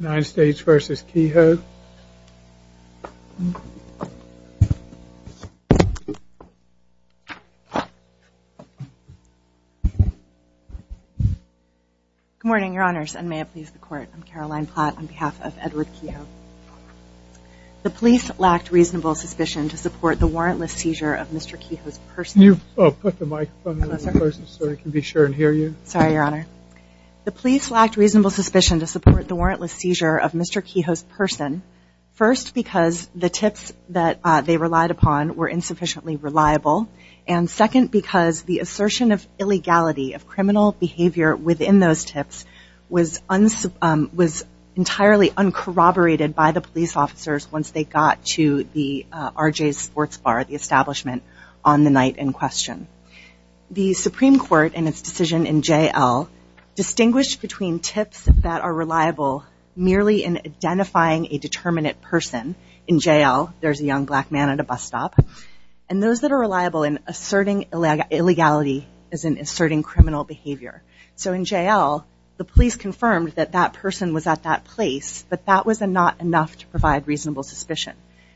United States v. Kehoe. Good morning, Your Honors, and may it please the Court. I'm Caroline Platt on behalf of Edward Kehoe. The police lacked reasonable suspicion to support the warrantless seizure of Mr. Kehoe's purse. Can you put the microphone a little closer so we can be sure and hear you. Sorry, Your Honor. They lacked reasonable suspicion to support the warrantless seizure of Mr. Kehoe's person, first because the tips that they relied upon were insufficiently reliable, and second because the assertion of illegality of criminal behavior within those tips was entirely uncorroborated by the police officers once they got to the RJ's Sports Bar, the establishment, on the night in question. The Supreme Court and its decision in J.L. distinguished between tips that are reliable merely in identifying a determinate person, in J.L. there's a young black man at a bus stop, and those that are reliable in asserting illegality as in asserting criminal behavior. So in J.L. the police confirmed that that person was at that place, but that was not enough to provide reasonable suspicion.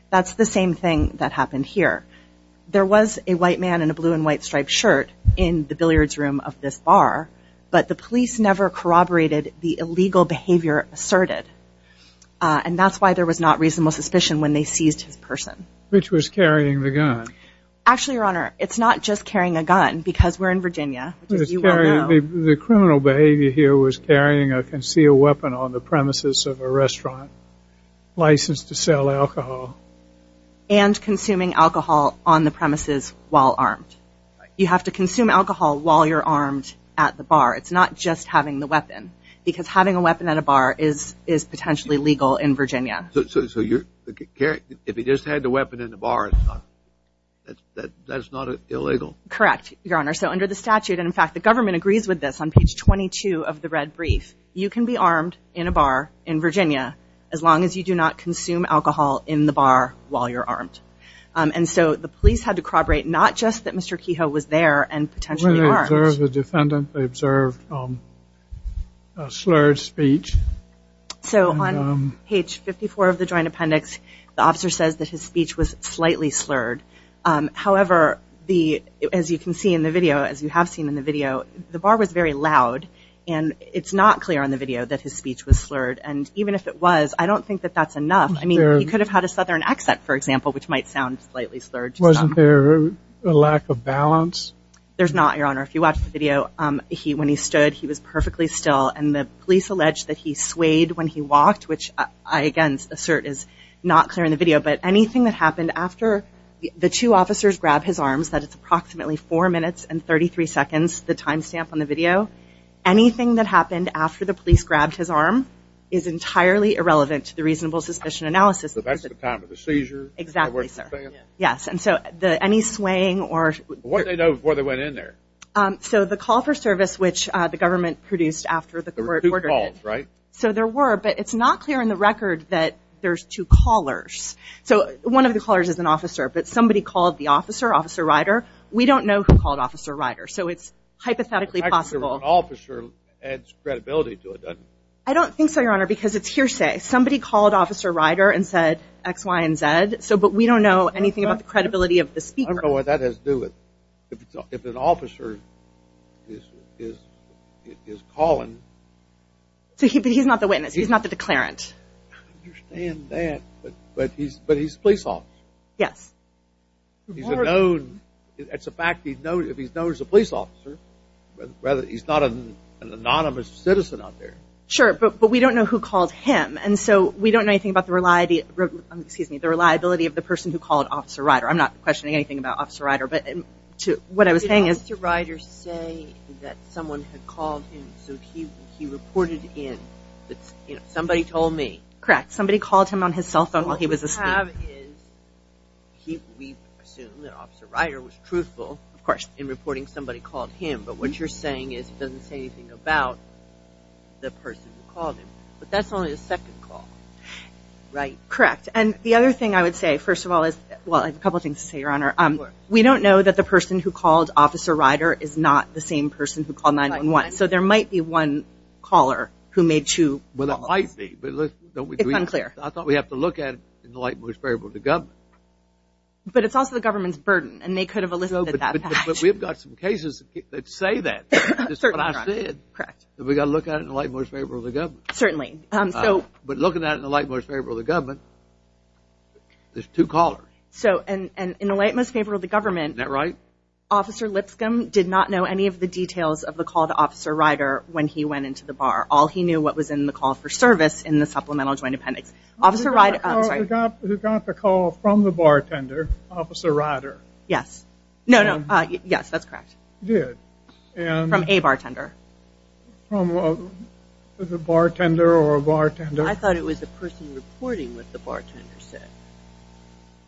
That's the same thing that happened here. There was a white man in a blue and white striped shirt in the billiards room of this bar, but the police never corroborated the illegal behavior asserted, and that's why there was not reasonable suspicion when they seized his person. Which was carrying the gun? Actually, Your Honor, it's not just carrying a gun because we're in Virginia. The criminal behavior here was carrying a concealed weapon on the premises while armed. You have to consume alcohol while you're armed at the bar. It's not just having the weapon, because having a weapon at a bar is potentially legal in Virginia. So if he just had the weapon in the bar, that's not illegal? Correct, Your Honor. So under the statute, and in fact the government agrees with this on page 22 of the red brief, you can be armed in a bar in Virginia as long as you do not consume alcohol in the bar while you're armed. And so the police had to corroborate not just that Mr. Kehoe was there and potentially armed. When they observed the defendant, they observed a slurred speech. So on page 54 of the joint appendix, the officer says that his speech was slightly slurred. However, as you can see in the video, as you have seen in the video, the bar was very loud, and it's not clear on the video that his speech was slurred, and even if it was, I don't think that that's enough. I mean, he could have had a southern accent, for example, which might sound slightly slurred. Wasn't there a lack of balance? There's not, Your Honor. If you watch the video, when he stood, he was perfectly still, and the police allege that he swayed when he walked, which I again assert is not clear in the video, but anything that happened after the two officers grabbed his arms, that it's irrelevant to the reasonable suspicion analysis. So that's the time of the seizure? Exactly, sir. Yes. And so any swaying or... What did they know before they went in there? So the call for service, which the government produced after the court ordered it. There were two calls, right? So there were, but it's not clear in the record that there's two callers. So one of the callers is an officer, but somebody called the officer, Officer Ryder. We don't know who called Officer Ryder, so it's hypothetically possible... An officer adds credibility to it, doesn't it? I don't think so, Your Honor. What do you say? Somebody called Officer Ryder and said X, Y, and Z, but we don't know anything about the credibility of the speaker. I don't know what that has to do with... If an officer is calling... But he's not the witness. He's not the declarant. I understand that, but he's a police officer. Yes. He's a known... It's a fact that he's known as a police officer. He's not an anonymous citizen out there. Sure, but we don't know who called him, and so we don't know anything about the reliability of the person who called Officer Ryder. I'm not questioning anything about Officer Ryder, but what I was saying is... Did Officer Ryder say that someone had called him, so he reported in that somebody told me? Correct. Somebody called him on his cell phone while he was asleep. What we have is, we assume that Officer Ryder was truthful in reporting somebody called him, but what you're saying is he doesn't say anything about the person who called him, but that's only the second call. Right. Correct, and the other thing I would say, first of all, is... Well, I have a couple of things to say, Your Honor. We don't know that the person who called Officer Ryder is not the same person who called 911, so there might be one caller who made two calls. Well, there might be, but let's... It's unclear. I thought we have to look at it in the light most variable of the government. But it's also the government's burden, and they could have listed that fact. But we've got some cases that say that. That's what I said. Correct. But we've got to look at it in the light most favorable of the government. Certainly. So... But looking at it in the light most favorable of the government, there's two callers. So, and in the light most favorable of the government... Is that right? Officer Lipscomb did not know any of the details of the call to Officer Ryder when he went into the bar. All he knew what was in the call for service in the supplemental joint appendix. Officer Ryder... I'm sorry. Who got the call from the bartender, Officer Ryder? Yes. No, no. Yes, that's correct. Did. From a bartender. From a bartender or a bartender? I thought it was the person reporting what the bartender said.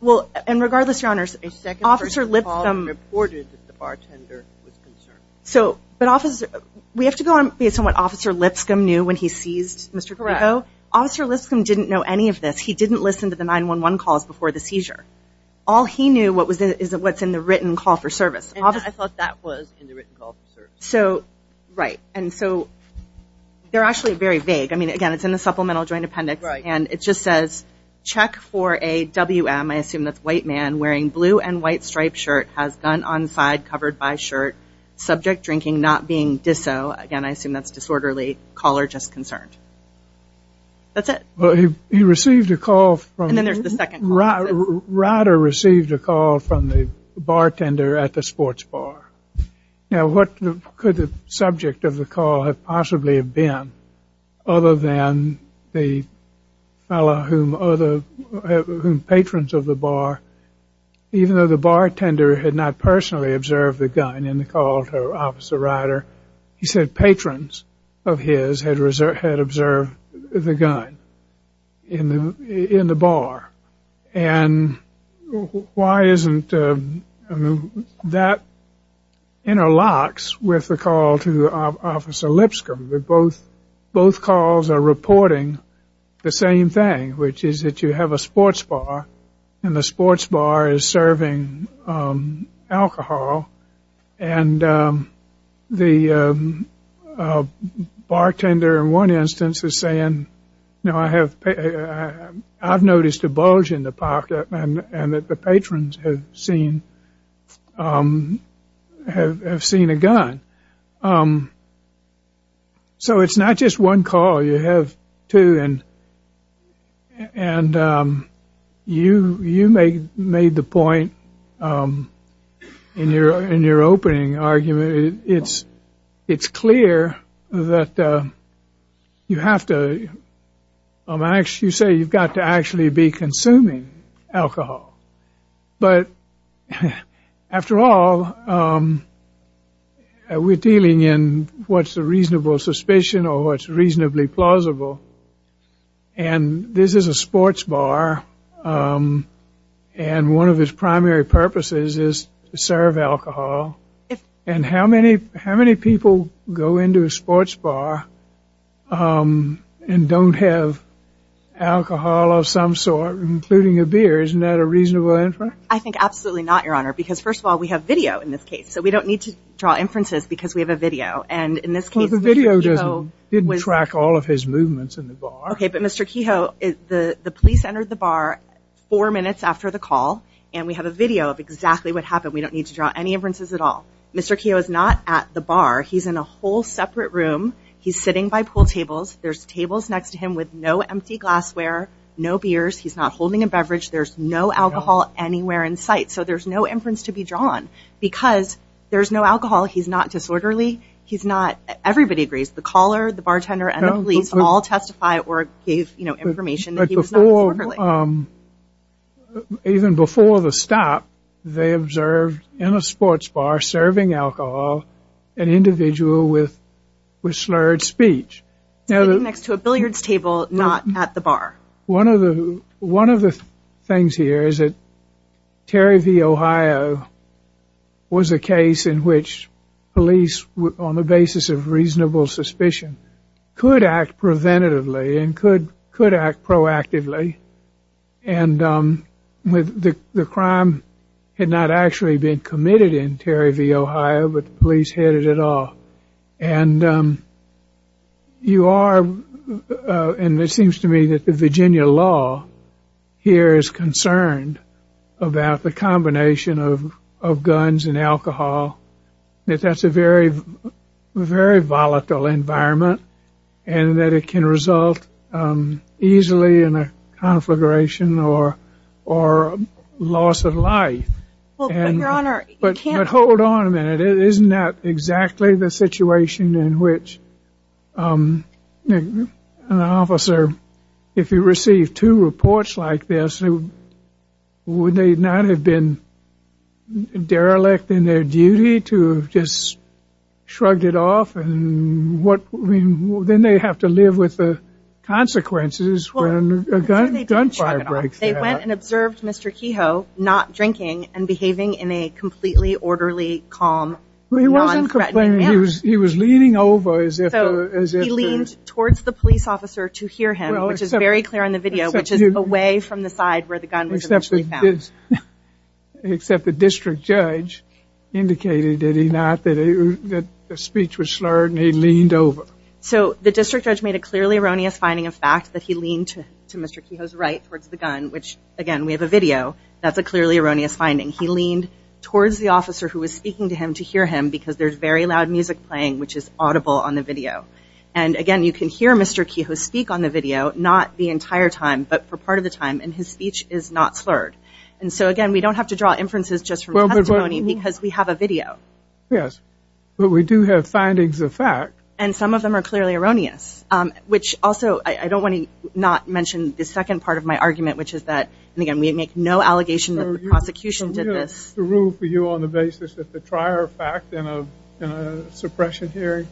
Well, and regardless, Your Honors, Officer Lipscomb... A second person called and reported that the bartender was concerned. So, but Officer... We have to go on based on what Officer Lipscomb knew when he seized Mr. Krico? Correct. Officer Lipscomb didn't know any of this. He didn't listen to the 911 calls before the seizure. All he knew is what's in the written call for service. And I thought that was in the written call for service. So, right. And so, they're actually very vague. I mean, again, it's in the supplemental joint appendix. Right. And it just says, check for a WM, I assume that's white man, wearing blue and white striped shirt, has gun on side covered by shirt, subject drinking, not being diso, again, I assume that's disorderly, caller just concerned. That's it. Well, he received a call from... And then there's the second call. Ryder received a call from the bartender at the sports bar. Now, what could the subject of the call have possibly have been other than the fellow whom other patrons of the bar, even though the bartender had not personally observed the gun in the call to Officer Ryder, he said patrons of his had observed the gun in the bar. And why isn't... That interlocks with the call to Officer Lipscomb. Both calls are reporting the same thing, which is that you have a sports bar and the sports bar is serving alcohol. And the bartender in one instance is saying, you know, I have, I've noticed a bulge in the And you made the point in your opening argument, it's clear that you have to, you say you've got to actually be consuming alcohol. But after all, we're dealing in what's a reasonable suspicion or what's reasonably plausible. And this is a sports bar. And one of its primary purposes is to serve alcohol. And how many, how many people go into a sports bar and don't have alcohol of some sort, including a beer? Isn't that a reasonable inference? I think absolutely not, Your Honor, because first of all, we have video in this case. So we don't need to draw inferences because we have a video. And in this case, the video didn't track all of his movements in the bar. Okay, but Mr. Kehoe, the police entered the bar four minutes after the call. And we have a video of exactly what happened. We don't need to draw any inferences at all. Mr. Kehoe is not at the bar. He's in a whole separate room. He's sitting by pool tables. There's tables next to him with no empty glassware, no beers. He's not holding a beverage. There's no alcohol anywhere in sight. So there's no inference to be drawn because there's no alcohol. He's not disorderly. He's not. Everybody agrees. The caller, the bartender and the police all testify or gave information that he was not disorderly. Now, even before the stop, they observed in a sports bar serving alcohol an individual with slurred speech. Sitting next to a billiards table, not at the bar. One of the things here is that Terry v. Ohio was a case in which police, on the basis of reasonable suspicion, could act preventatively and could act proactively. And the crime had not actually been committed in Terry v. Ohio, but the police headed it off. And you are, and it seems to me that the Virginia law here is concerned about the combination of guns and alcohol. That that's a very volatile environment and that it can result easily in a conflagration or loss of life. But hold on a minute. Isn't that exactly the situation in which an officer, if he received two reports like this, would they not have been derelict in their duty? To have just shrugged it off and then they have to live with the consequences when a gunfire breaks out. They went and observed Mr. Kehoe not drinking and behaving in a completely orderly, calm, non-threatening manner. He wasn't complaining. He was leaning over as if to... He leaned towards the police officer to hear him, which is very clear on the video, which is away from the side where the gun was eventually found. Except the district judge indicated that he not, that the speech was slurred and he leaned over. So the district judge made a clearly erroneous finding of fact that he leaned to Mr. Kehoe's right towards the gun, which again, we have a video. That's a clearly erroneous finding. He leaned towards the officer who was speaking to him to hear him because there's very loud music playing, which is audible on the video. And again, you can hear Mr. Kehoe speak on the video, not the entire time, but for part of the time, and his speech is not slurred. And so again, we don't have to draw inferences just from testimony because we have a video. Yes, but we do have findings of fact. And some of them are clearly erroneous, which also, I don't want to not mention the second part of my argument, which is that, and again, we make no allegation that the prosecution did this. What's the rule for you on the basis that the trier of fact in a suppression hearing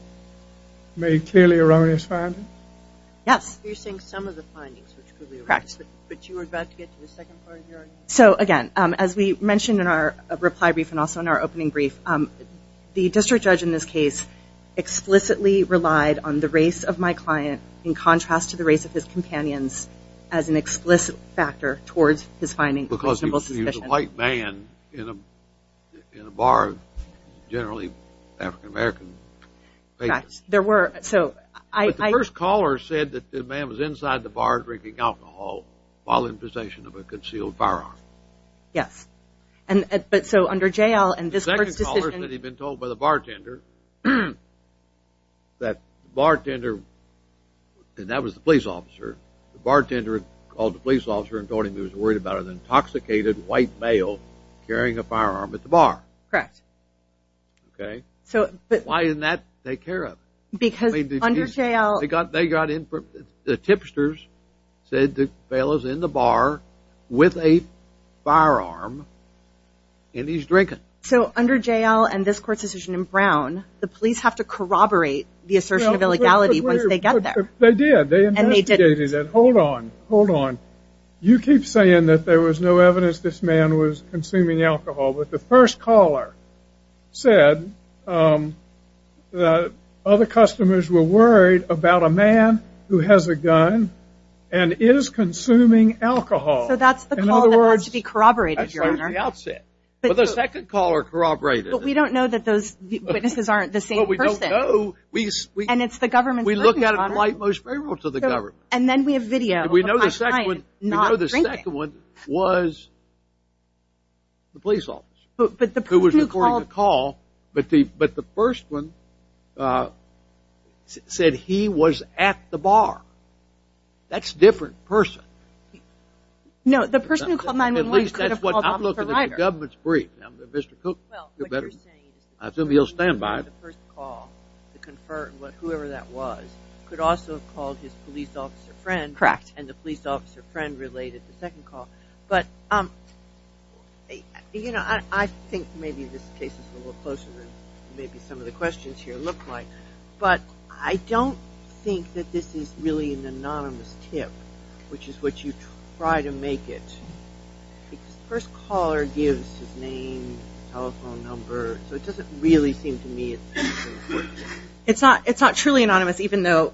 made a clearly erroneous finding? Yes. You're saying some of the findings, which could be erroneous. Correct. But you were about to get to the second part of your argument. So again, as we mentioned in our reply brief and also in our opening brief, the district judge in this case explicitly relied on the race of my client in contrast to the race of his companions as an explicit factor towards his finding. Because he was a white man in a bar, generally African-American. There were. But the first caller said that the man was inside the bar drinking alcohol while in possession of a concealed firearm. Yes, but so under jail and this court's decision. The second caller said he'd been told by the bartender that the bartender, and that was the police officer. The bartender called the police officer and told him he was worried about an intoxicated white male carrying a firearm at the bar. Correct. Okay. So. Why didn't that take care of? Because under jail. They got in, the tipsters said the fellow's in the bar with a firearm and he's drinking. So under jail and this court's decision in Brown, the police have to corroborate the assertion of illegality once they get there. They did. They investigated it. Hold on. Hold on. You keep saying that there was no evidence this man was consuming alcohol. But the first caller said that other customers were worried about a man who has a gun and is consuming alcohol. So that's the call that has to be corroborated, Your Honor. That's right at the outset. But the second caller corroborated it. But we don't know that those witnesses aren't the same person. But we don't know. And it's the government's burden, Your Honor. We look at it in light most favorable to the government. And then we have video. We know the second one was the police officer who was reporting the call. But the first one said he was at the bar. That's a different person. No, the person who called 911 could have called the provider. At least that's what I'm looking at. The government's brief. Mr. Cook, you're better. I assume you'll stand by. The first call, the confer, whoever that was, could also have called his police officer friend. Correct. And the police officer friend related the second call. But, you know, I think maybe this case is a little closer than maybe some of the questions here look like. But I don't think that this is really an anonymous tip, which is what you try to make it. The first caller gives his name, telephone number. So it doesn't really seem to me it's an important tip. It's not truly anonymous, even though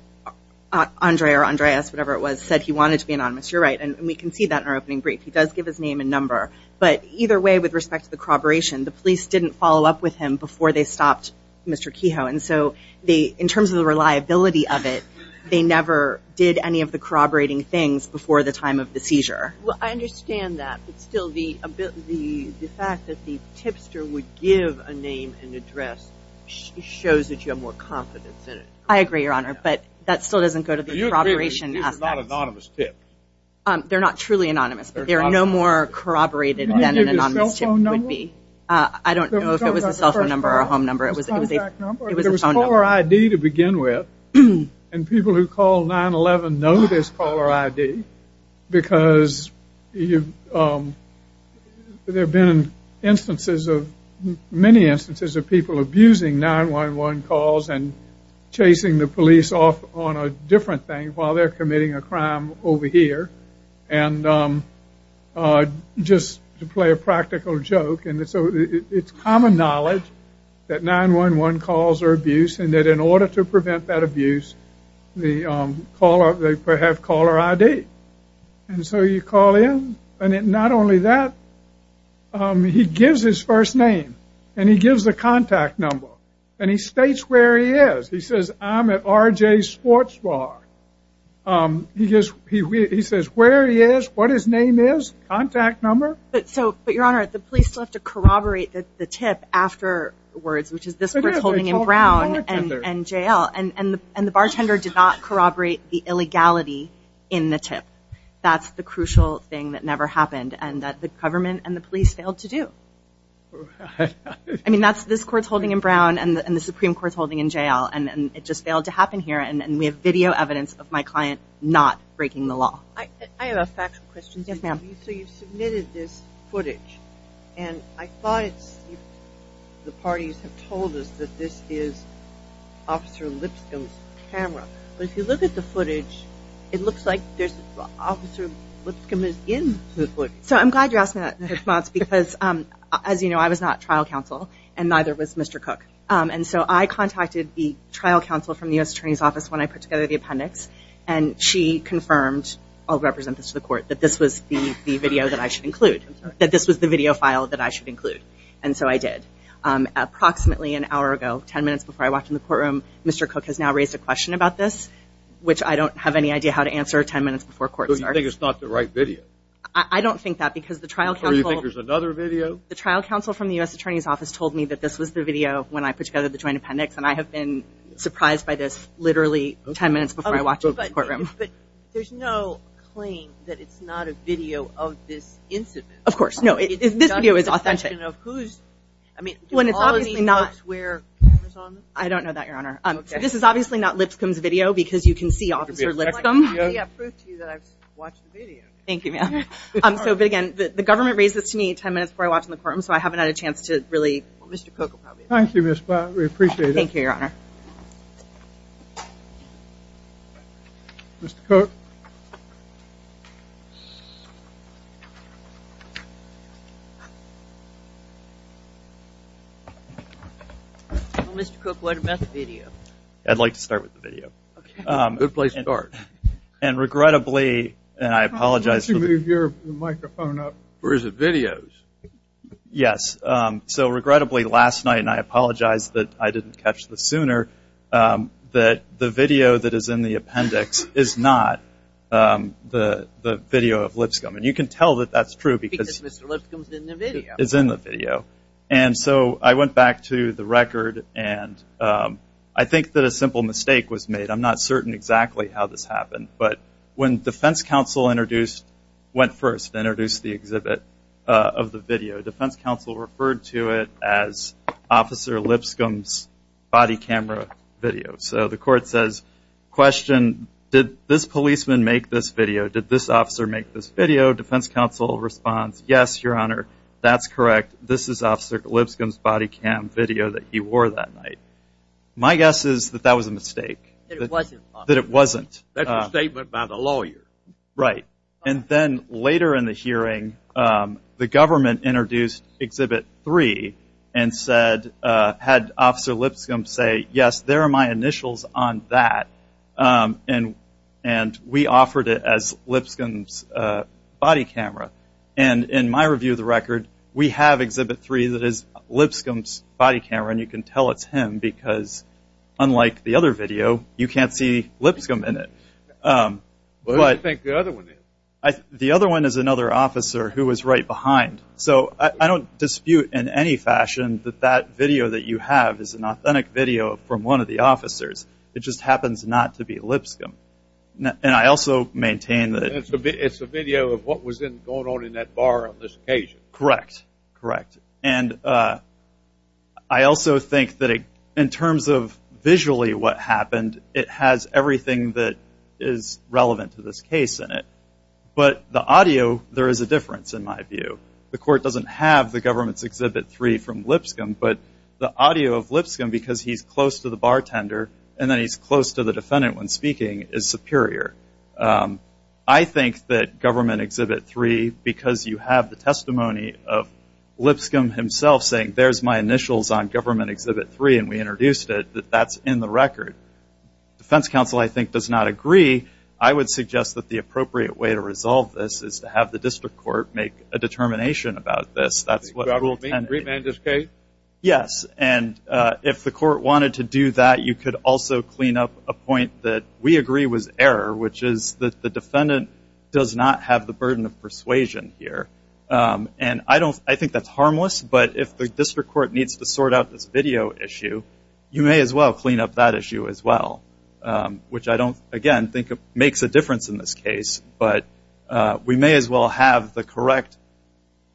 Andre or Andreas, whatever it was, said he wanted to be anonymous. You're right. And we can see that in our opening brief. He does give his name and number. But either way, with respect to the corroboration, the police didn't follow up with him before they stopped Mr. Kehoe. And so in terms of the reliability of it, they never did any of the corroborating things before the time of the seizure. Well, I understand that. But still, the fact that the tipster would give a name and address shows that you have more confidence in it. I agree, Your Honor. But that still doesn't go to the corroboration aspect. These are not anonymous tips. They're not truly anonymous. But they are no more corroborated than an anonymous tip would be. I don't know if it was a cell phone number or a home number. It was a phone number. It was a caller ID to begin with. And people who call 9-1-1 know there's caller ID because there have been instances of many instances of people abusing 9-1-1 calls and chasing the police off on a different thing while they're committing a crime over here. And just to play a practical joke. It's common knowledge that 9-1-1 calls are abuse and that in order to prevent that abuse, they have caller ID. And so you call in. And not only that, he gives his first name. And he gives the contact number. And he states where he is. He says, I'm at RJ's Sports Bar. He says where he is, what his name is, contact number. But, Your Honor, the police still have to corroborate the tip afterwards, which is this court's holding in Brown and J.L. And the bartender did not corroborate the illegality in the tip. That's the crucial thing that never happened and that the government and the police failed to do. I mean, that's this court's holding in Brown and the Supreme Court's holding in J.L. And it just failed to happen here. And we have video evidence of my client not breaking the law. I have a factual question. Yes, ma'am. So you submitted this footage. And I thought the parties have told us that this is Officer Lipscomb's camera. But if you look at the footage, it looks like Officer Lipscomb is in the footage. So I'm glad you asked me that in response because, as you know, I was not trial counsel and neither was Mr. Cook. And so I contacted the trial counsel from the U.S. Attorney's Office when I put together the appendix. And she confirmed, I'll represent this to the court, that this was the video that I should include, that this was the video file that I should include. And so I did. Approximately an hour ago, 10 minutes before I walked in the courtroom, Mr. Cook has now raised a question about this, which I don't have any idea how to answer 10 minutes before court starts. So you think it's not the right video? I don't think that because the trial counsel – Or you think there's another video? The trial counsel from the U.S. Attorney's Office told me that this was the video when I put together the joint appendix. And I have been surprised by this literally 10 minutes before I walked into the courtroom. But there's no claim that it's not a video of this incident. Of course, no. This video is authentic. It's just a question of who's – I mean, do all these folks wear cameras on them? I don't know that, Your Honor. So this is obviously not Lipscomb's video because you can see Officer Lipscomb. It's like, hey, I proved to you that I've watched the video. Thank you, ma'am. So, but, again, the government raised this to me 10 minutes before I walked in the courtroom, so I haven't had a chance to really – Thank you, Your Honor. Mr. Cook? Well, Mr. Cook, what about the video? I'd like to start with the video. Okay. Good place to start. And regrettably, and I apologize – Why don't you move your microphone up? Or is it videos? Yes. So, regrettably, last night, and I apologize that I didn't catch this sooner, that the video that is in the appendix is not the video of Lipscomb. And you can tell that that's true because – Because Mr. Lipscomb is in the video. Is in the video. And so I went back to the record, and I think that a simple mistake was made. I'm not certain exactly how this happened. But when defense counsel introduced – went first, introduced the exhibit of the video, defense counsel referred to it as Officer Lipscomb's body camera video. So the court says, question, did this policeman make this video? Did this officer make this video? Defense counsel responds, yes, Your Honor, that's correct. This is Officer Lipscomb's body cam video that he wore that night. My guess is that that was a mistake. That it wasn't. That's a statement by the lawyer. Right. And then later in the hearing, the government introduced Exhibit 3 and said – had Officer Lipscomb say, yes, there are my initials on that. And we offered it as Lipscomb's body camera. And in my review of the record, we have Exhibit 3 that is Lipscomb's body camera, and you can tell it's him because, unlike the other video, you can't see Lipscomb in it. Who do you think the other one is? The other one is another officer who was right behind. So I don't dispute in any fashion that that video that you have is an authentic video from one of the officers. It just happens not to be Lipscomb. And I also maintain that – It's a video of what was going on in that bar on this occasion. Correct. Correct. And I also think that in terms of visually what happened, it has everything that is relevant to this case in it. But the audio, there is a difference in my view. The court doesn't have the government's Exhibit 3 from Lipscomb, but the audio of Lipscomb, because he's close to the bartender and then he's close to the defendant when speaking, is superior. I think that Government Exhibit 3, because you have the testimony of Lipscomb himself saying, there's my initials on Government Exhibit 3 and we introduced it, that that's in the record. Defense counsel, I think, does not agree. I would suggest that the appropriate way to resolve this is to have the district court make a determination about this. That's what rule 10 is. Yes, and if the court wanted to do that, you could also clean up a point that we agree was error, which is that the defendant does not have the burden of persuasion here. And I think that's harmless, but if the district court needs to sort out this video issue, you may as well clean up that issue as well, which I don't, again, think makes a difference in this case. But we may as well have the correct,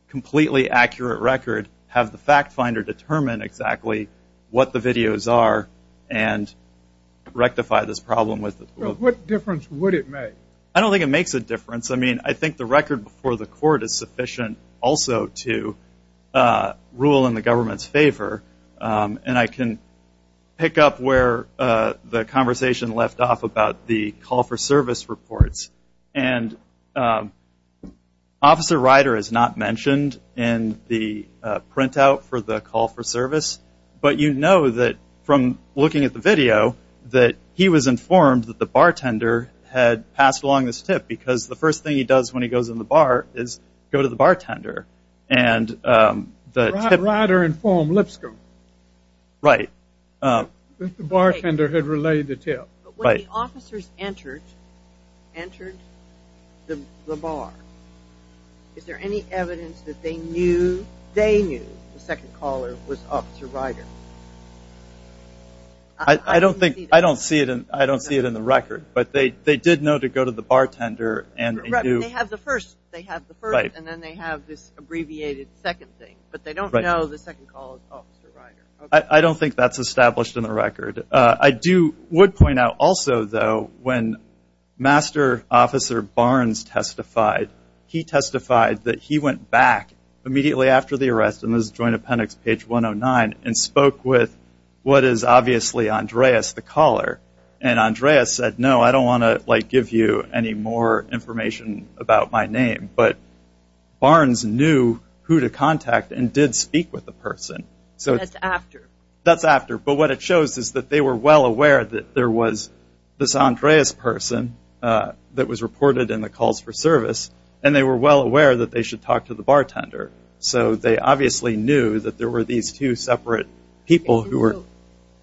completely accurate record, have the fact finder determine exactly what the videos are and rectify this problem. What difference would it make? I don't think it makes a difference. I think the record before the court is sufficient also to rule in the government's favor. And I can pick up where the conversation left off about the call for service reports. And Officer Ryder is not mentioned in the printout for the call for service, but you know that from looking at the video, that he was informed that the bartender had passed along this tip because the first thing he does when he goes in the bar is go to the bartender. Ryder informed Lipscomb. Right. That the bartender had relayed the tip. But when the officers entered the bar, is there any evidence that they knew the second caller was Officer Ryder? I don't see it in the record. But they did know to go to the bartender. They have the first, and then they have this abbreviated second thing. But they don't know the second call is Officer Ryder. I don't think that's established in the record. I would point out also, though, when Master Officer Barnes testified, he testified that he went back immediately after the arrest, and this is Joint Appendix page 109, and spoke with what is obviously Andreas the caller. And Andreas said, no, I don't want to give you any more information about my name. But Barnes knew who to contact and did speak with the person. That's after. That's after. But what it shows is that they were well aware that there was this Andreas person that was reported in the calls for service, and they were well aware that they should talk to the bartender. So they obviously knew that there were these two separate people who were.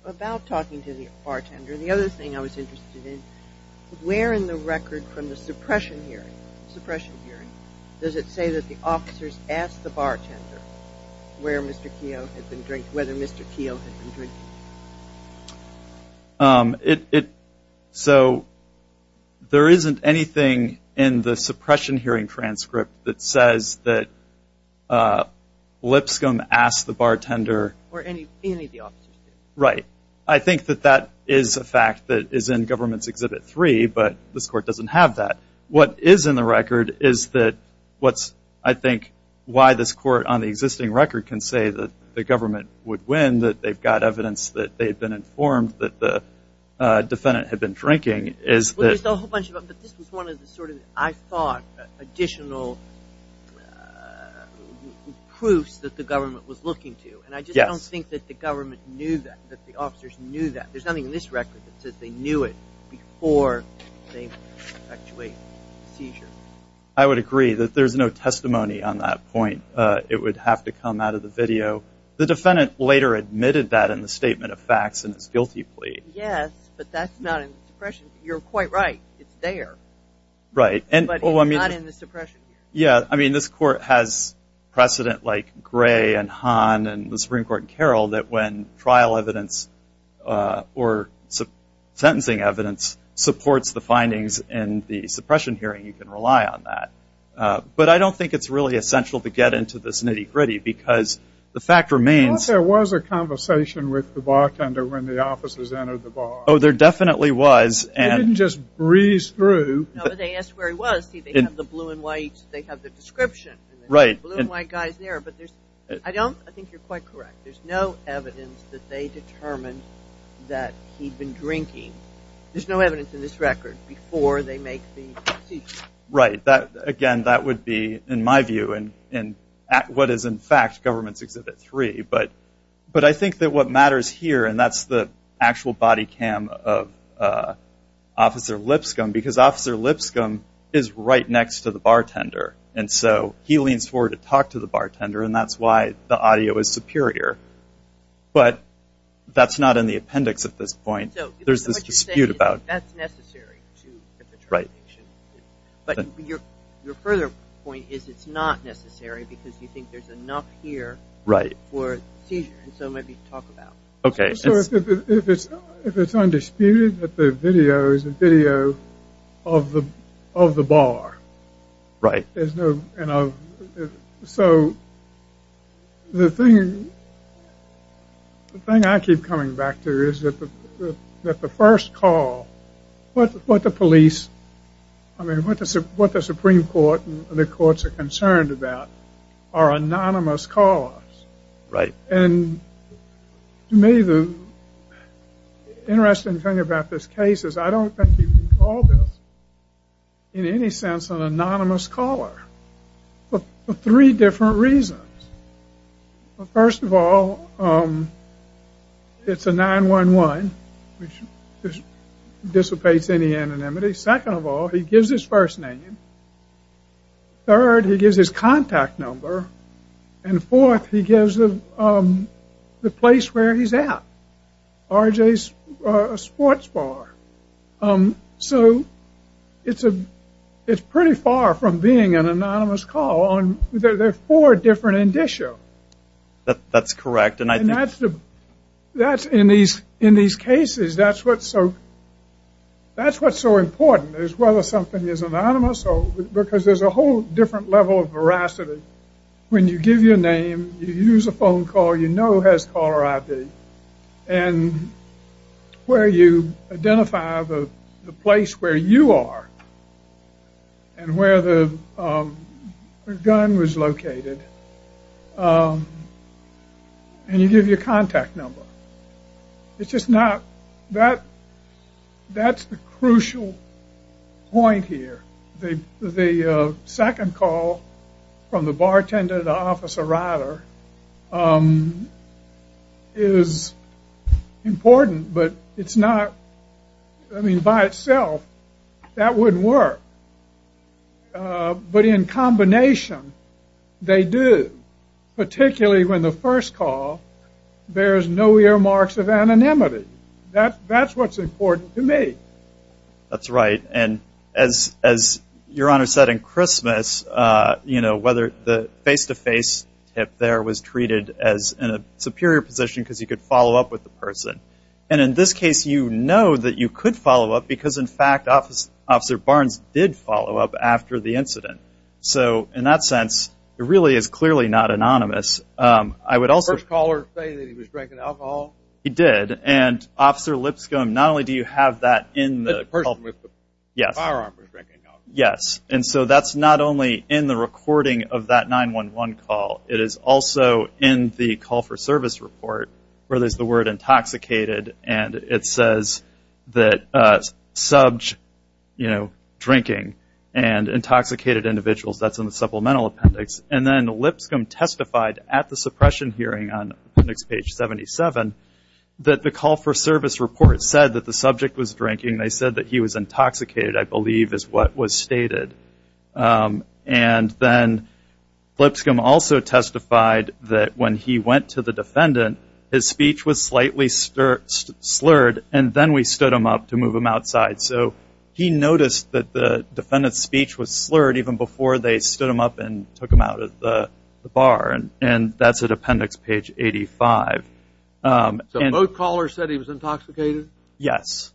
About talking to the bartender, the other thing I was interested in, where in the record from the suppression hearing, suppression hearing, does it say that the officers asked the bartender whether Mr. Keogh had been drinking? So there isn't anything in the suppression hearing transcript that says that Lipscomb asked the bartender. Or any of the officers did. Right. I think that that is a fact that is in Government's Exhibit 3, but this Court doesn't have that. What is in the record is that what's, I think, why this Court on the existing record can say that the government would win, that they've got evidence that they've been informed that the defendant had been drinking is that. Well, there's a whole bunch of them, but this was one of the sort of, I thought, additional proofs that the government was looking to. And I just don't think that the government knew that, that the officers knew that. There's nothing in this record that says they knew it before they perpetuated the seizure. I would agree that there's no testimony on that point. It would have to come out of the video. The defendant later admitted that in the statement of facts in his guilty plea. Yes, but that's not in the suppression. You're quite right. It's there. Right. But it's not in the suppression hearing. Yeah. I mean, this Court has precedent like Gray and Hahn and the Supreme Court in Carroll that when trial evidence or sentencing evidence supports the findings in the suppression hearing, you can rely on that. But I don't think it's really essential to get into this nitty-gritty because the fact remains. Well, there was a conversation with the bartender when the officers entered the bar. Oh, there definitely was. They didn't just breeze through. No, but they asked where he was. See, they have the blue and white, they have the description. Right. The blue and white guy is there, but I think you're quite correct. There's no evidence that they determined that he'd been drinking. There's no evidence in this record before they make the decision. Right. Again, that would be, in my view, what is in fact Government's Exhibit 3. But I think that what matters here, and that's the actual body cam of Officer Lipscomb because Officer Lipscomb is right next to the bartender, and so he leans forward to talk to the bartender, and that's why the audio is superior. But that's not in the appendix at this point. There's this dispute about it. So what you're saying is that that's necessary to get the translation. But your further point is it's not necessary because you think there's enough here for seizure, and so maybe talk about it. If it's undisputed that the video is a video of the bar. Right. So the thing I keep coming back to is that the first call, what the police, I mean what the Supreme Court and the courts are concerned about are anonymous calls. Right. And to me the interesting thing about this case is I don't think you can call this in any sense an anonymous caller for three different reasons. First of all, it's a 911, which dissipates any anonymity. Second of all, he gives his first name. Third, he gives his contact number. And fourth, he gives the place where he's at, R.J.'s sports bar. So it's pretty far from being an anonymous call. There are four different indicia. That's correct. And in these cases that's what's so important is whether something is anonymous because there's a whole different level of veracity. When you give your name, you use a phone call, you know who has caller ID, and where you identify the place where you are and where the gun was located, and you give your contact number. It's just not, that's the crucial point here. The second call from the bartender to the officer rider is important, but it's not, I mean by itself that wouldn't work. But in combination they do, particularly when the first call, there's no earmarks of anonymity. That's what's important to me. That's right. And as Your Honor said in Christmas, whether the face-to-face tip there was treated as in a superior position because you could follow up with the person. And in this case you know that you could follow up because in fact Officer Barnes did follow up after the incident. So in that sense, it really is clearly not anonymous. Did the first caller say that he was drinking alcohol? He did. And Officer Lipscomb, not only do you have that in the call. The person with the firearm was drinking alcohol. Yes. And so that's not only in the recording of that 911 call. It is also in the call for service report where there's the word intoxicated and it says that subbed drinking and intoxicated individuals. That's in the supplemental appendix. And then Lipscomb testified at the suppression hearing on appendix page 77 that the call for service report said that the subject was drinking. They said that he was intoxicated, I believe, is what was stated. And then Lipscomb also testified that when he went to the defendant, his speech was slightly slurred and then we stood him up to move him outside. So he noticed that the defendant's speech was slurred even before they stood him up and took him out of the bar. And that's at appendix page 85. So both callers said he was intoxicated? Yes.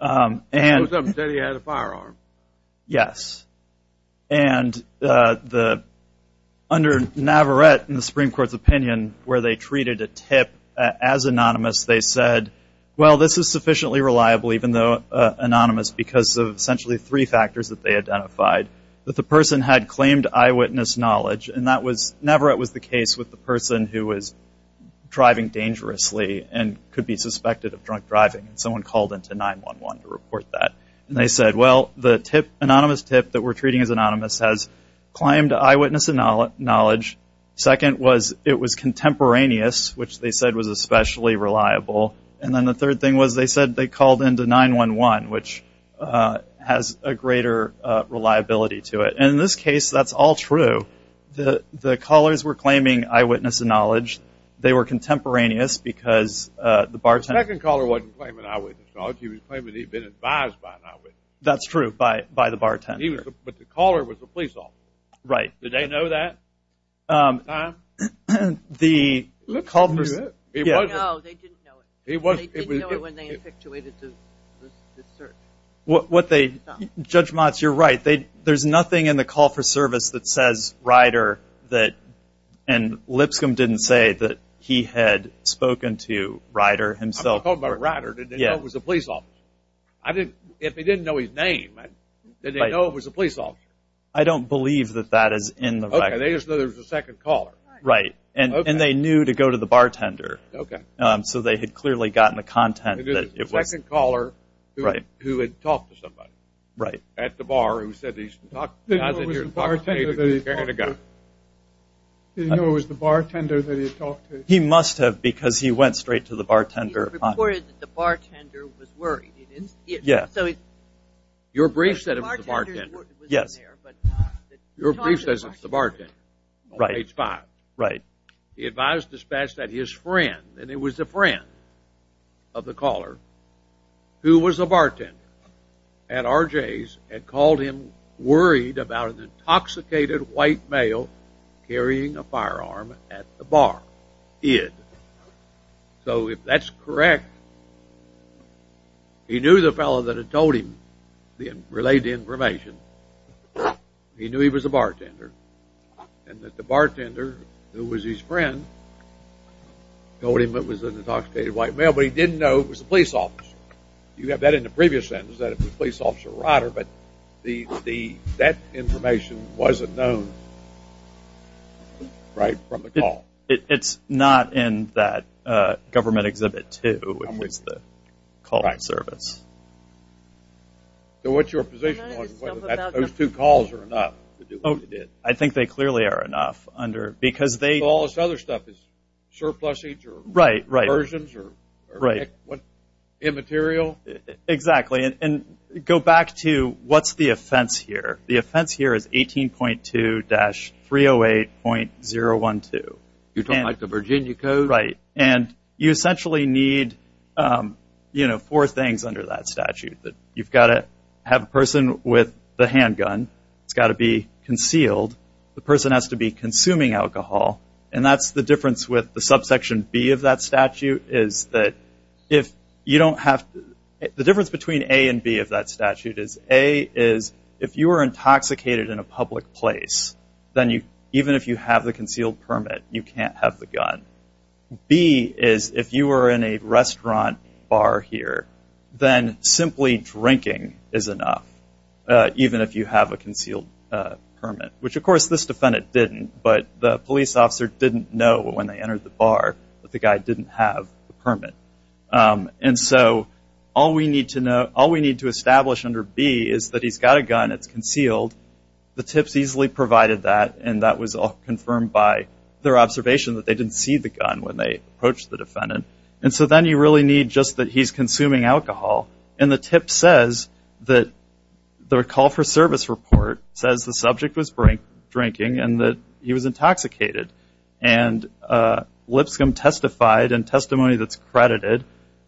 Both of them said he had a firearm? Yes. And under Navarette in the Supreme Court's opinion where they treated a tip as anonymous, they said, well, this is sufficiently reliable even though anonymous because of essentially three factors that they identified. That the person had claimed eyewitness knowledge, and Navarette was the case with the person who was driving dangerously and could be suspected of drunk driving. Someone called into 911 to report that. And they said, well, the anonymous tip that we're treating as anonymous has claimed eyewitness knowledge. Second was it was contemporaneous, which they said was especially reliable. And then the third thing was they said they called into 911, which has a greater reliability to it. And in this case, that's all true. The callers were claiming eyewitness knowledge. They were contemporaneous because the bartender. The second caller wasn't claiming eyewitness knowledge. He was claiming that he had been advised by Navarette. That's true, by the bartender. But the caller was the police officer. Right. Did they know that at the time? No, they didn't know it. They didn't know it when they infatuated the search. Judge Motz, you're right. There's nothing in the call for service that says Ryder and Lipscomb didn't say that he had spoken to Ryder himself. I'm talking about Ryder. Did they know it was the police officer? If they didn't know his name, did they know it was the police officer? I don't believe that that is in the record. Okay, they just know there was a second caller. Right. And they knew to go to the bartender. Okay. So they had clearly gotten the content that it was. There was a second caller who had talked to somebody. Right. At the bar who said he talked to the bartender. Did he know it was the bartender that he had talked to? He must have because he went straight to the bartender. He reported that the bartender was worried. Yes. Your brief said it was the bartender. Yes. Your brief says it's the bartender on page five. Right. He advised dispatch that his friend, and it was a friend of the caller, who was a bartender at RJ's, had called him worried about an intoxicated white male carrying a firearm at the bar. Id. So if that's correct, he knew the fellow that had told him the related information. He knew he was a bartender and that the bartender, who was his friend, told him it was an intoxicated white male, but he didn't know it was the police officer. You have that in the previous sentence, that it was police officer Ryder, but that information wasn't known, right, from the call. It's not in that government exhibit, too, which is the call to service. Right. So what's your position on whether those two calls are enough to do what he did? I think they clearly are enough because they – So all this other stuff is surplusage or conversions or immaterial? Exactly. Exactly. And go back to what's the offense here. The offense here is 18.2-308.012. You don't like the Virginia Code? Right. And you essentially need four things under that statute. You've got to have a person with the handgun. It's got to be concealed. The person has to be consuming alcohol. And that's the difference with the subsection B of that statute, is that if you don't have – the difference between A and B of that statute is, A, is if you were intoxicated in a public place, then even if you have the concealed permit, you can't have the gun. B is if you were in a restaurant bar here, then simply drinking is enough, even if you have a concealed permit, which, of course, this defendant didn't, but the police officer didn't know when they entered the bar that the guy didn't have the permit. And so all we need to establish under B is that he's got a gun, it's concealed. The tip's easily provided that, and that was all confirmed by their observation that they didn't see the gun when they approached the defendant. And so then you really need just that he's consuming alcohol. And the tip says that the call for service report says the subject was drinking and that he was intoxicated. And Lipscomb testified in testimony that's credited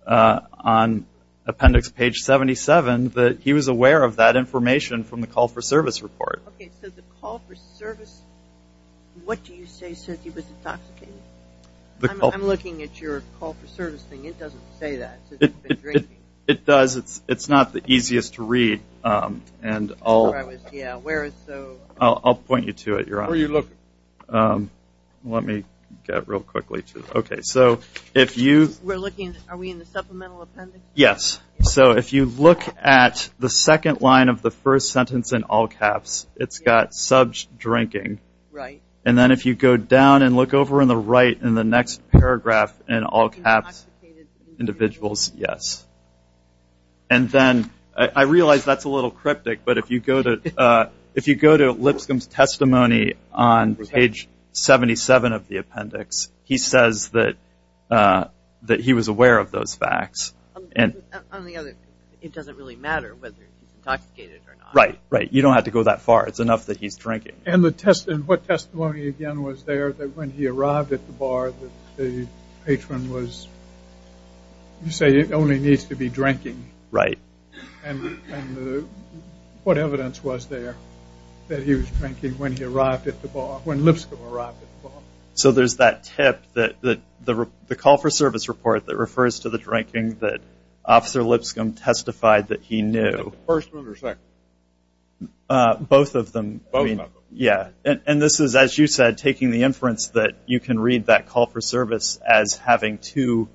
on appendix page 77 that he was aware of that information from the call for service report. Okay. So the call for service, what do you say says he was intoxicated? I'm looking at your call for service thing. It doesn't say that, says he's been drinking. It does. It's not the easiest to read, and I'll point you to it, Your Honor. Let me get real quickly to it. Okay, so if you. We're looking. Are we in the supplemental appendix? Yes. So if you look at the second line of the first sentence in all caps, it's got SUBJ drinking. Right. And then if you go down and look over in the right in the next paragraph in all caps, individuals, yes. And then I realize that's a little cryptic, but if you go to Lipscomb's testimony on page 77 of the appendix, he says that he was aware of those facts. On the other, it doesn't really matter whether he's intoxicated or not. Right, right. You don't have to go that far. It's enough that he's drinking. And what testimony, again, was there that when he arrived at the bar, the patron was, you say, it only needs to be drinking. Right. And what evidence was there that he was drinking when he arrived at the bar, when Lipscomb arrived at the bar? So there's that tip that the call for service report that refers to the drinking that Officer Lipscomb testified that he knew. The first one or second one? Both of them. Both of them. Yeah. And this is, as you said, taking the inference that you can read that call for service as having two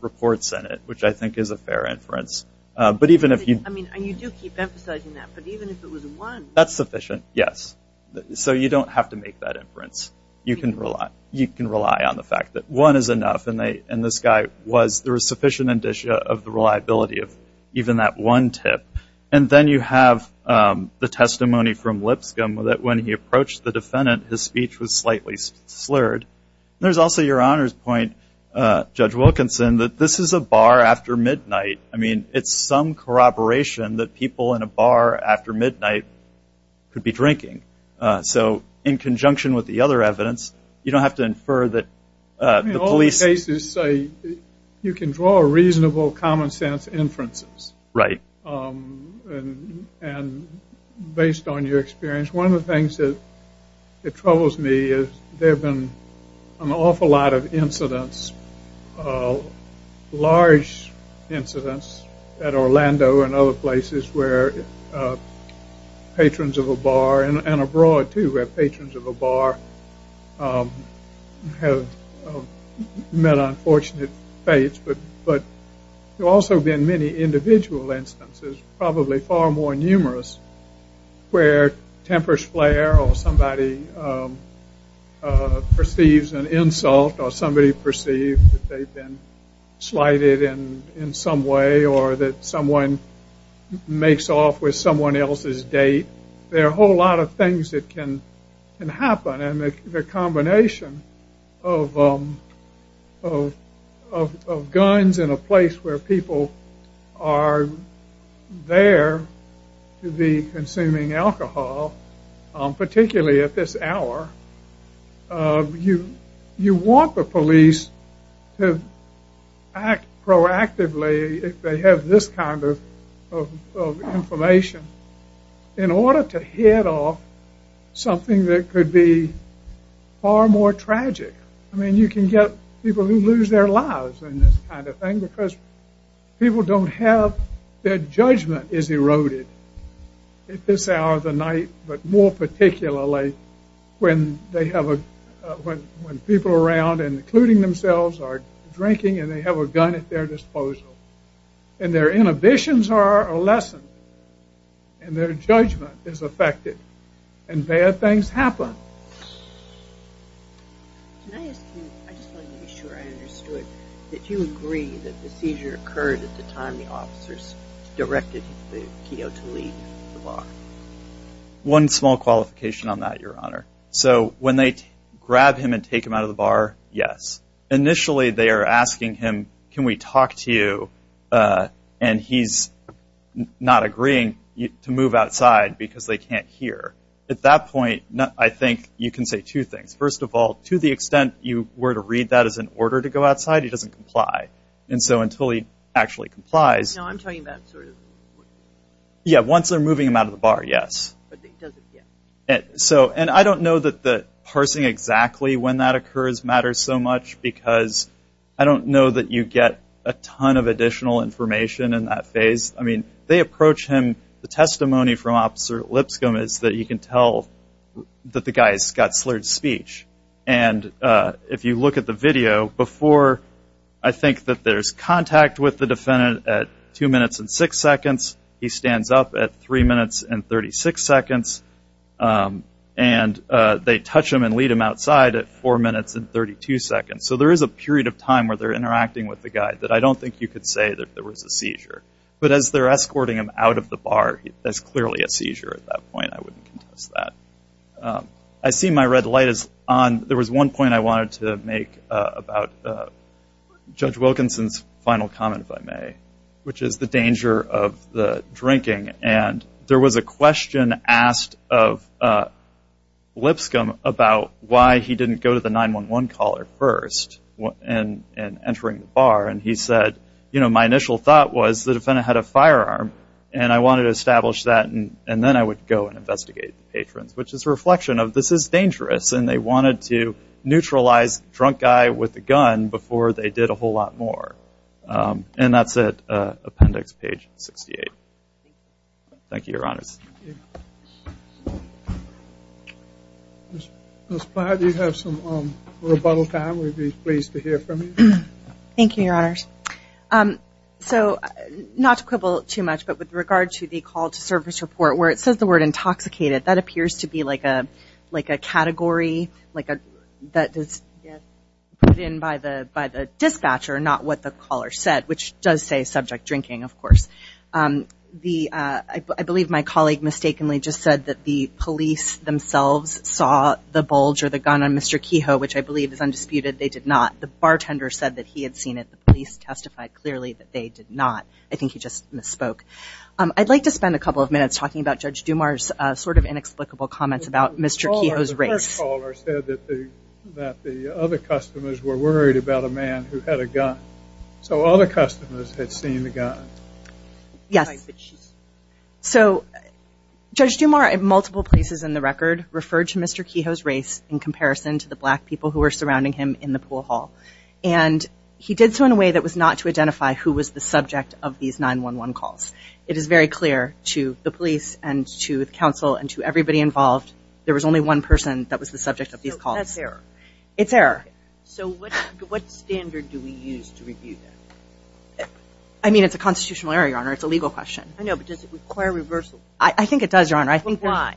reports in it, which I think is a fair inference. I mean, and you do keep emphasizing that, but even if it was one. That's sufficient, yes. So you don't have to make that inference. You can rely on the fact that one is enough, and this guy was there was sufficient indicia of the reliability of even that one tip. And then you have the testimony from Lipscomb that when he approached the defendant, his speech was slightly slurred. And there's also your honor's point, Judge Wilkinson, that this is a bar after midnight. I mean, it's some corroboration that people in a bar after midnight could be drinking. So in conjunction with the other evidence, you don't have to infer that the police. All the cases say you can draw a reasonable common sense inferences. Right. And based on your experience, one of the things that troubles me is there have been an awful lot of incidents, large incidents at Orlando and other places where patrons of a bar and abroad, too, where patrons of a bar have met unfortunate fates. But there have also been many individual instances, probably far more numerous, where tempers flare or somebody perceives an insult or somebody perceives that they've been slighted in some way or that someone makes off with someone else's date. There are a whole lot of things that can happen. And the combination of guns in a place where people are there to be consuming alcohol, particularly at this hour, you want the police to act proactively if they have this kind of information. In order to head off something that could be far more tragic, I mean, you can get people who lose their lives in this kind of thing because people don't have, their judgment is eroded at this hour of the night, but more particularly when people around, including themselves, are drinking and they have a gun at their disposal. And their inhibitions are lessened. And their judgment is affected. And bad things happen. Can I ask you, I just want to be sure I understood, that you agree that the seizure occurred at the time the officers directed the keel to leave the bar? One small qualification on that, Your Honor. So when they grab him and take him out of the bar, yes. Initially, they are asking him, can we talk to you? And he's not agreeing to move outside because they can't hear. At that point, I think you can say two things. First of all, to the extent you were to read that as an order to go outside, he doesn't comply. And so until he actually complies. No, I'm talking about sort of. Yeah, once they're moving him out of the bar, yes. But he doesn't get. So, and I don't know that the parsing exactly when that occurs matters so much because I don't know that you get a ton of additional information in that phase. I mean, they approach him. The testimony from officer Lipscomb is that you can tell that the guy's got slurred speech. And if you look at the video before, I think that there's contact with the defendant at two minutes and six seconds. He stands up at three minutes and 36 seconds. And they touch him and lead him outside at four minutes and 32 seconds. So, there is a period of time where they're interacting with the guy that I don't think you could say that there was a seizure. But as they're escorting him out of the bar, there's clearly a seizure at that point. I wouldn't contest that. I see my red light is on. There was one point I wanted to make about Judge Wilkinson's final comment, if I may, which is the danger of the drinking. And there was a question asked of Lipscomb about why he didn't go to the 911 caller first and entering the bar. And he said, you know, my initial thought was the defendant had a firearm and I wanted to establish that. And then I would go and investigate the patrons, which is a reflection of this is dangerous. And they wanted to neutralize the drunk guy with the gun before they did a whole lot more. And that's it. Appendix page 68. Thank you, Your Honors. Ms. Plyer, do you have some rebuttal time? We'd be pleased to hear from you. Thank you, Your Honors. So not to quibble too much, but with regard to the call to service report where it says the word intoxicated, that appears to be like a category that is put in by the dispatcher, not what the caller said, which does say subject drinking, of course. The, I believe my colleague mistakenly just said that the police themselves saw the bulge or the gun on Mr. Kehoe, which I believe is undisputed. They did not. The bartender said that he had seen it. The police testified clearly that they did not. I think he just misspoke. I'd like to spend a couple of minutes talking about Judge Dumar's sort of inexplicable comments about Mr. Kehoe's race. The first caller said that the other customers were worried about a man who had a gun. So all the customers had seen the gun. Yes. So Judge Dumar in multiple places in the record referred to Mr. Kehoe's race in comparison to the black people who were surrounding him in the pool hall. And he did so in a way that was not to identify who was the subject of these 911 calls. It is very clear to the police and to the council and to everybody involved, there was only one person that was the subject of these calls. That's error. It's error. So what standard do we use to review that? I mean it's a constitutional error, Your Honor. It's a legal question. I know, but does it require reversal? I think it does, Your Honor. Why?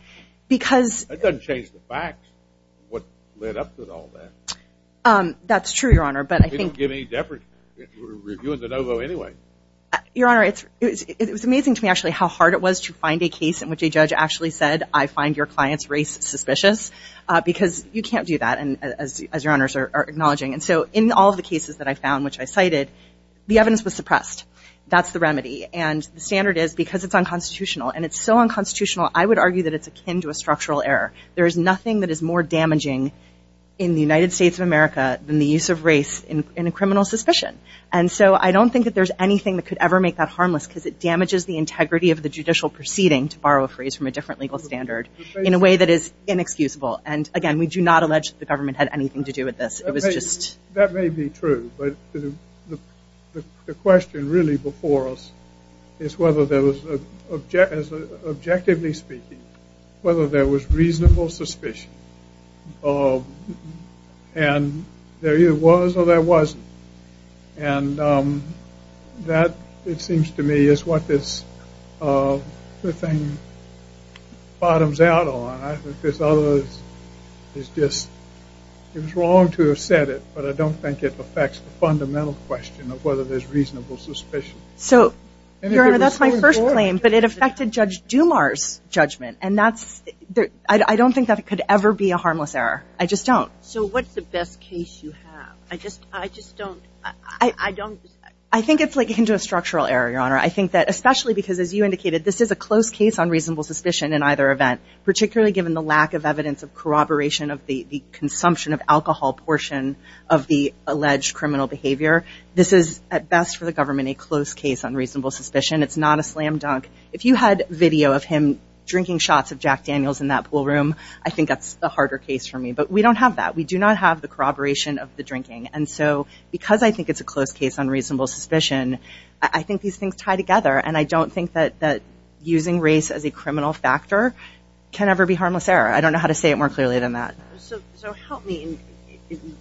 Because. That doesn't change the facts, what led up to all that. That's true, Your Honor, but I think. We don't give any deference. We're reviewing the no vote anyway. Your Honor, it was amazing to me actually how hard it was to find a case in which a judge actually said, I find your client's race suspicious because you can't do that. As your honors are acknowledging. And so in all of the cases that I found, which I cited, the evidence was suppressed. That's the remedy. And the standard is because it's unconstitutional and it's so unconstitutional, I would argue that it's akin to a structural error. There is nothing that is more damaging in the United States of America than the use of race in a criminal suspicion. And so I don't think that there's anything that could ever make that harmless because it damages the integrity of the judicial proceeding, to borrow a phrase from a different legal standard, in a way that is inexcusable. And again, we do not allege that the government had anything to do with this. It was just. That may be true, but the question really before us is whether there was, objectively speaking, whether there was reasonable suspicion. And there either was or there wasn't. And that, it seems to me, is what this, the thing bottoms out on. It's just, it was wrong to have said it, but I don't think it affects the fundamental question of whether there's reasonable suspicion. So, Your Honor, that's my first claim, but it affected Judge Dumar's judgment. And that's, I don't think that it could ever be a harmless error. I just don't. So what's the best case you have? I just, I just don't, I don't. I think it's akin to a structural error, Your Honor. I think that, especially because as you indicated, this is a close case on reasonable suspicion in either event, particularly given the lack of evidence of corroboration of the consumption of alcohol portion of the alleged criminal behavior. This is, at best for the government, a close case on reasonable suspicion. It's not a slam dunk. If you had video of him drinking shots of Jack Daniels in that pool room, I think that's the harder case for me. But we don't have that. We do not have the corroboration of the drinking. And so, because I think it's a close case on reasonable suspicion, I think these things tie together. And I don't think that using race as a criminal factor can ever be harmless error. I don't know how to say it more clearly than that. So help me. In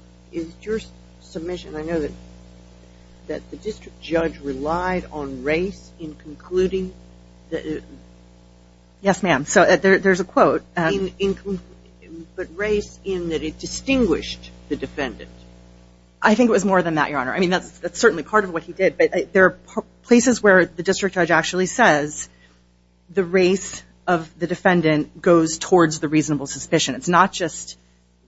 your submission, I know that the district judge relied on race in concluding. Yes, ma'am. So there's a quote. But race in that it distinguished the defendant. I think it was more than that, Your Honor. I mean, that's certainly part of what he did. But there are places where the district judge actually says the race of the defendant goes towards the reasonable suspicion. It's not just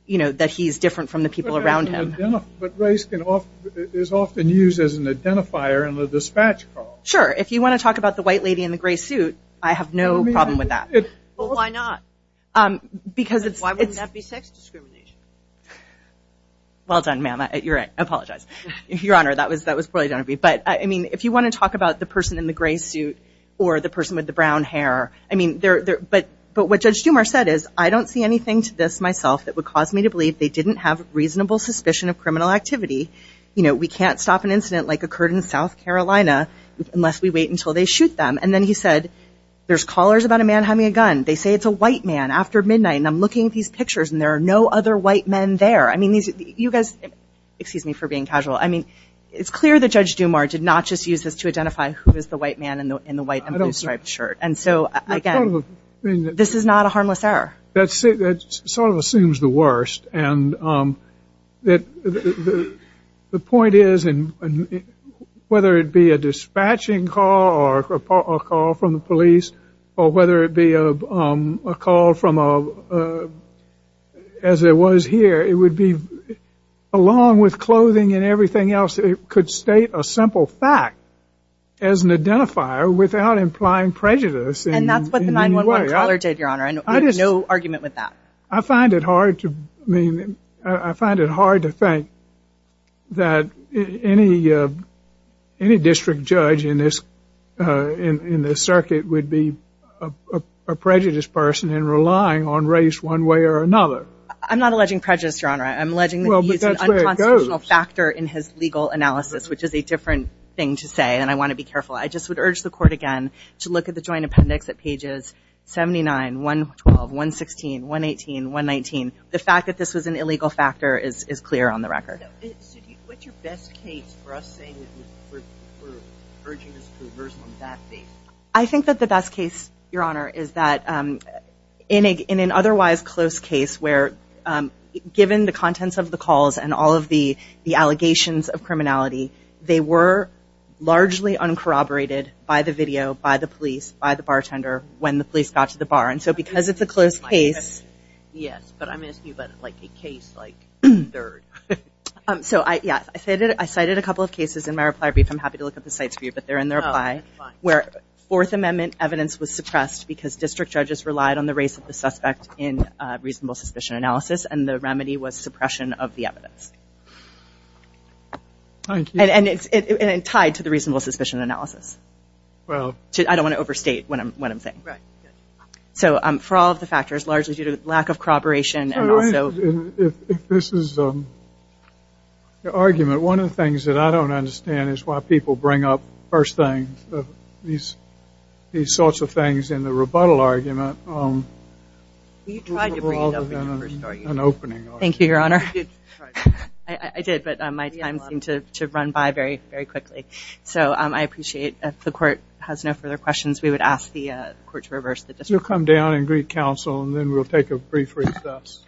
that he's different from the people around him. But race is often used as an identifier in the dispatch call. Sure. If you want to talk about the white lady in the gray suit, I have no problem with that. Well, why not? Because it's. Well done, ma'am. You're right. I apologize. Your Honor, that was that was probably going to be. But I mean, if you want to talk about the person in the gray suit or the person with the brown hair, I mean, they're there. But but what Judge Schumer said is, I don't see anything to this myself that would cause me to believe they didn't have reasonable suspicion of criminal activity. You know, we can't stop an incident like occurred in South Carolina unless we wait until they shoot them. And then he said, there's callers about a man having a gun. They say it's a white man after midnight. And I'm looking at these pictures and there are no other white men there. I mean, you guys, excuse me for being casual. I mean, it's clear that Judge Dumar did not just use this to identify who is the white man in the white striped shirt. And so, again, this is not a harmless error. That's it. That sort of assumes the worst. And that the point is, and whether it be a dispatching call or a call from the police or whether it be a call from as it was here, along with clothing and everything else, it could state a simple fact as an identifier without implying prejudice in any way. And that's what the 911 caller did, Your Honor. I have no argument with that. I find it hard to think that any district judge in this circuit would be a prejudiced person and relying on race one way or another. I'm not alleging prejudice, Your Honor. I'm alleging that he used an unconstitutional factor in his legal analysis, which is a different thing to say. And I want to be careful. I just would urge the court again to look at the joint appendix at pages 79, 112, 116, 118, 119. The fact that this was an illegal factor is clear on the record. What's your best case for us saying that we're urging this to reverse on that basis? I think that the best case, Your Honor, is that in an otherwise close case where, given the contents of the calls and all of the allegations of criminality, they were largely uncorroborated by the video, by the police, by the bartender, when the police got to the bar. And so because it's a close case. Yes, but I'm asking you about a case like third. So, yeah, I cited a couple of cases in my reply brief. I'm happy to look at the cites for you, where Fourth Amendment evidence was suppressed because district judges relied on the race of the suspect in reasonable suspicion analysis, and the remedy was suppression of the evidence. Thank you. And it's tied to the reasonable suspicion analysis. Well. I don't want to overstate what I'm saying. Right. So for all of the factors, largely due to lack of corroboration and also. If this is the argument, one of the things that I don't understand is why people bring up first things. These sorts of things in the rebuttal argument. You tried to bring it up. Thank you, Your Honor. I did, but my time seemed to run by very quickly. So I appreciate if the court has no further questions, we would ask the court to reverse the decision. You'll come down and greet counsel, and then we'll take a brief recess. Thank you, Your Honor.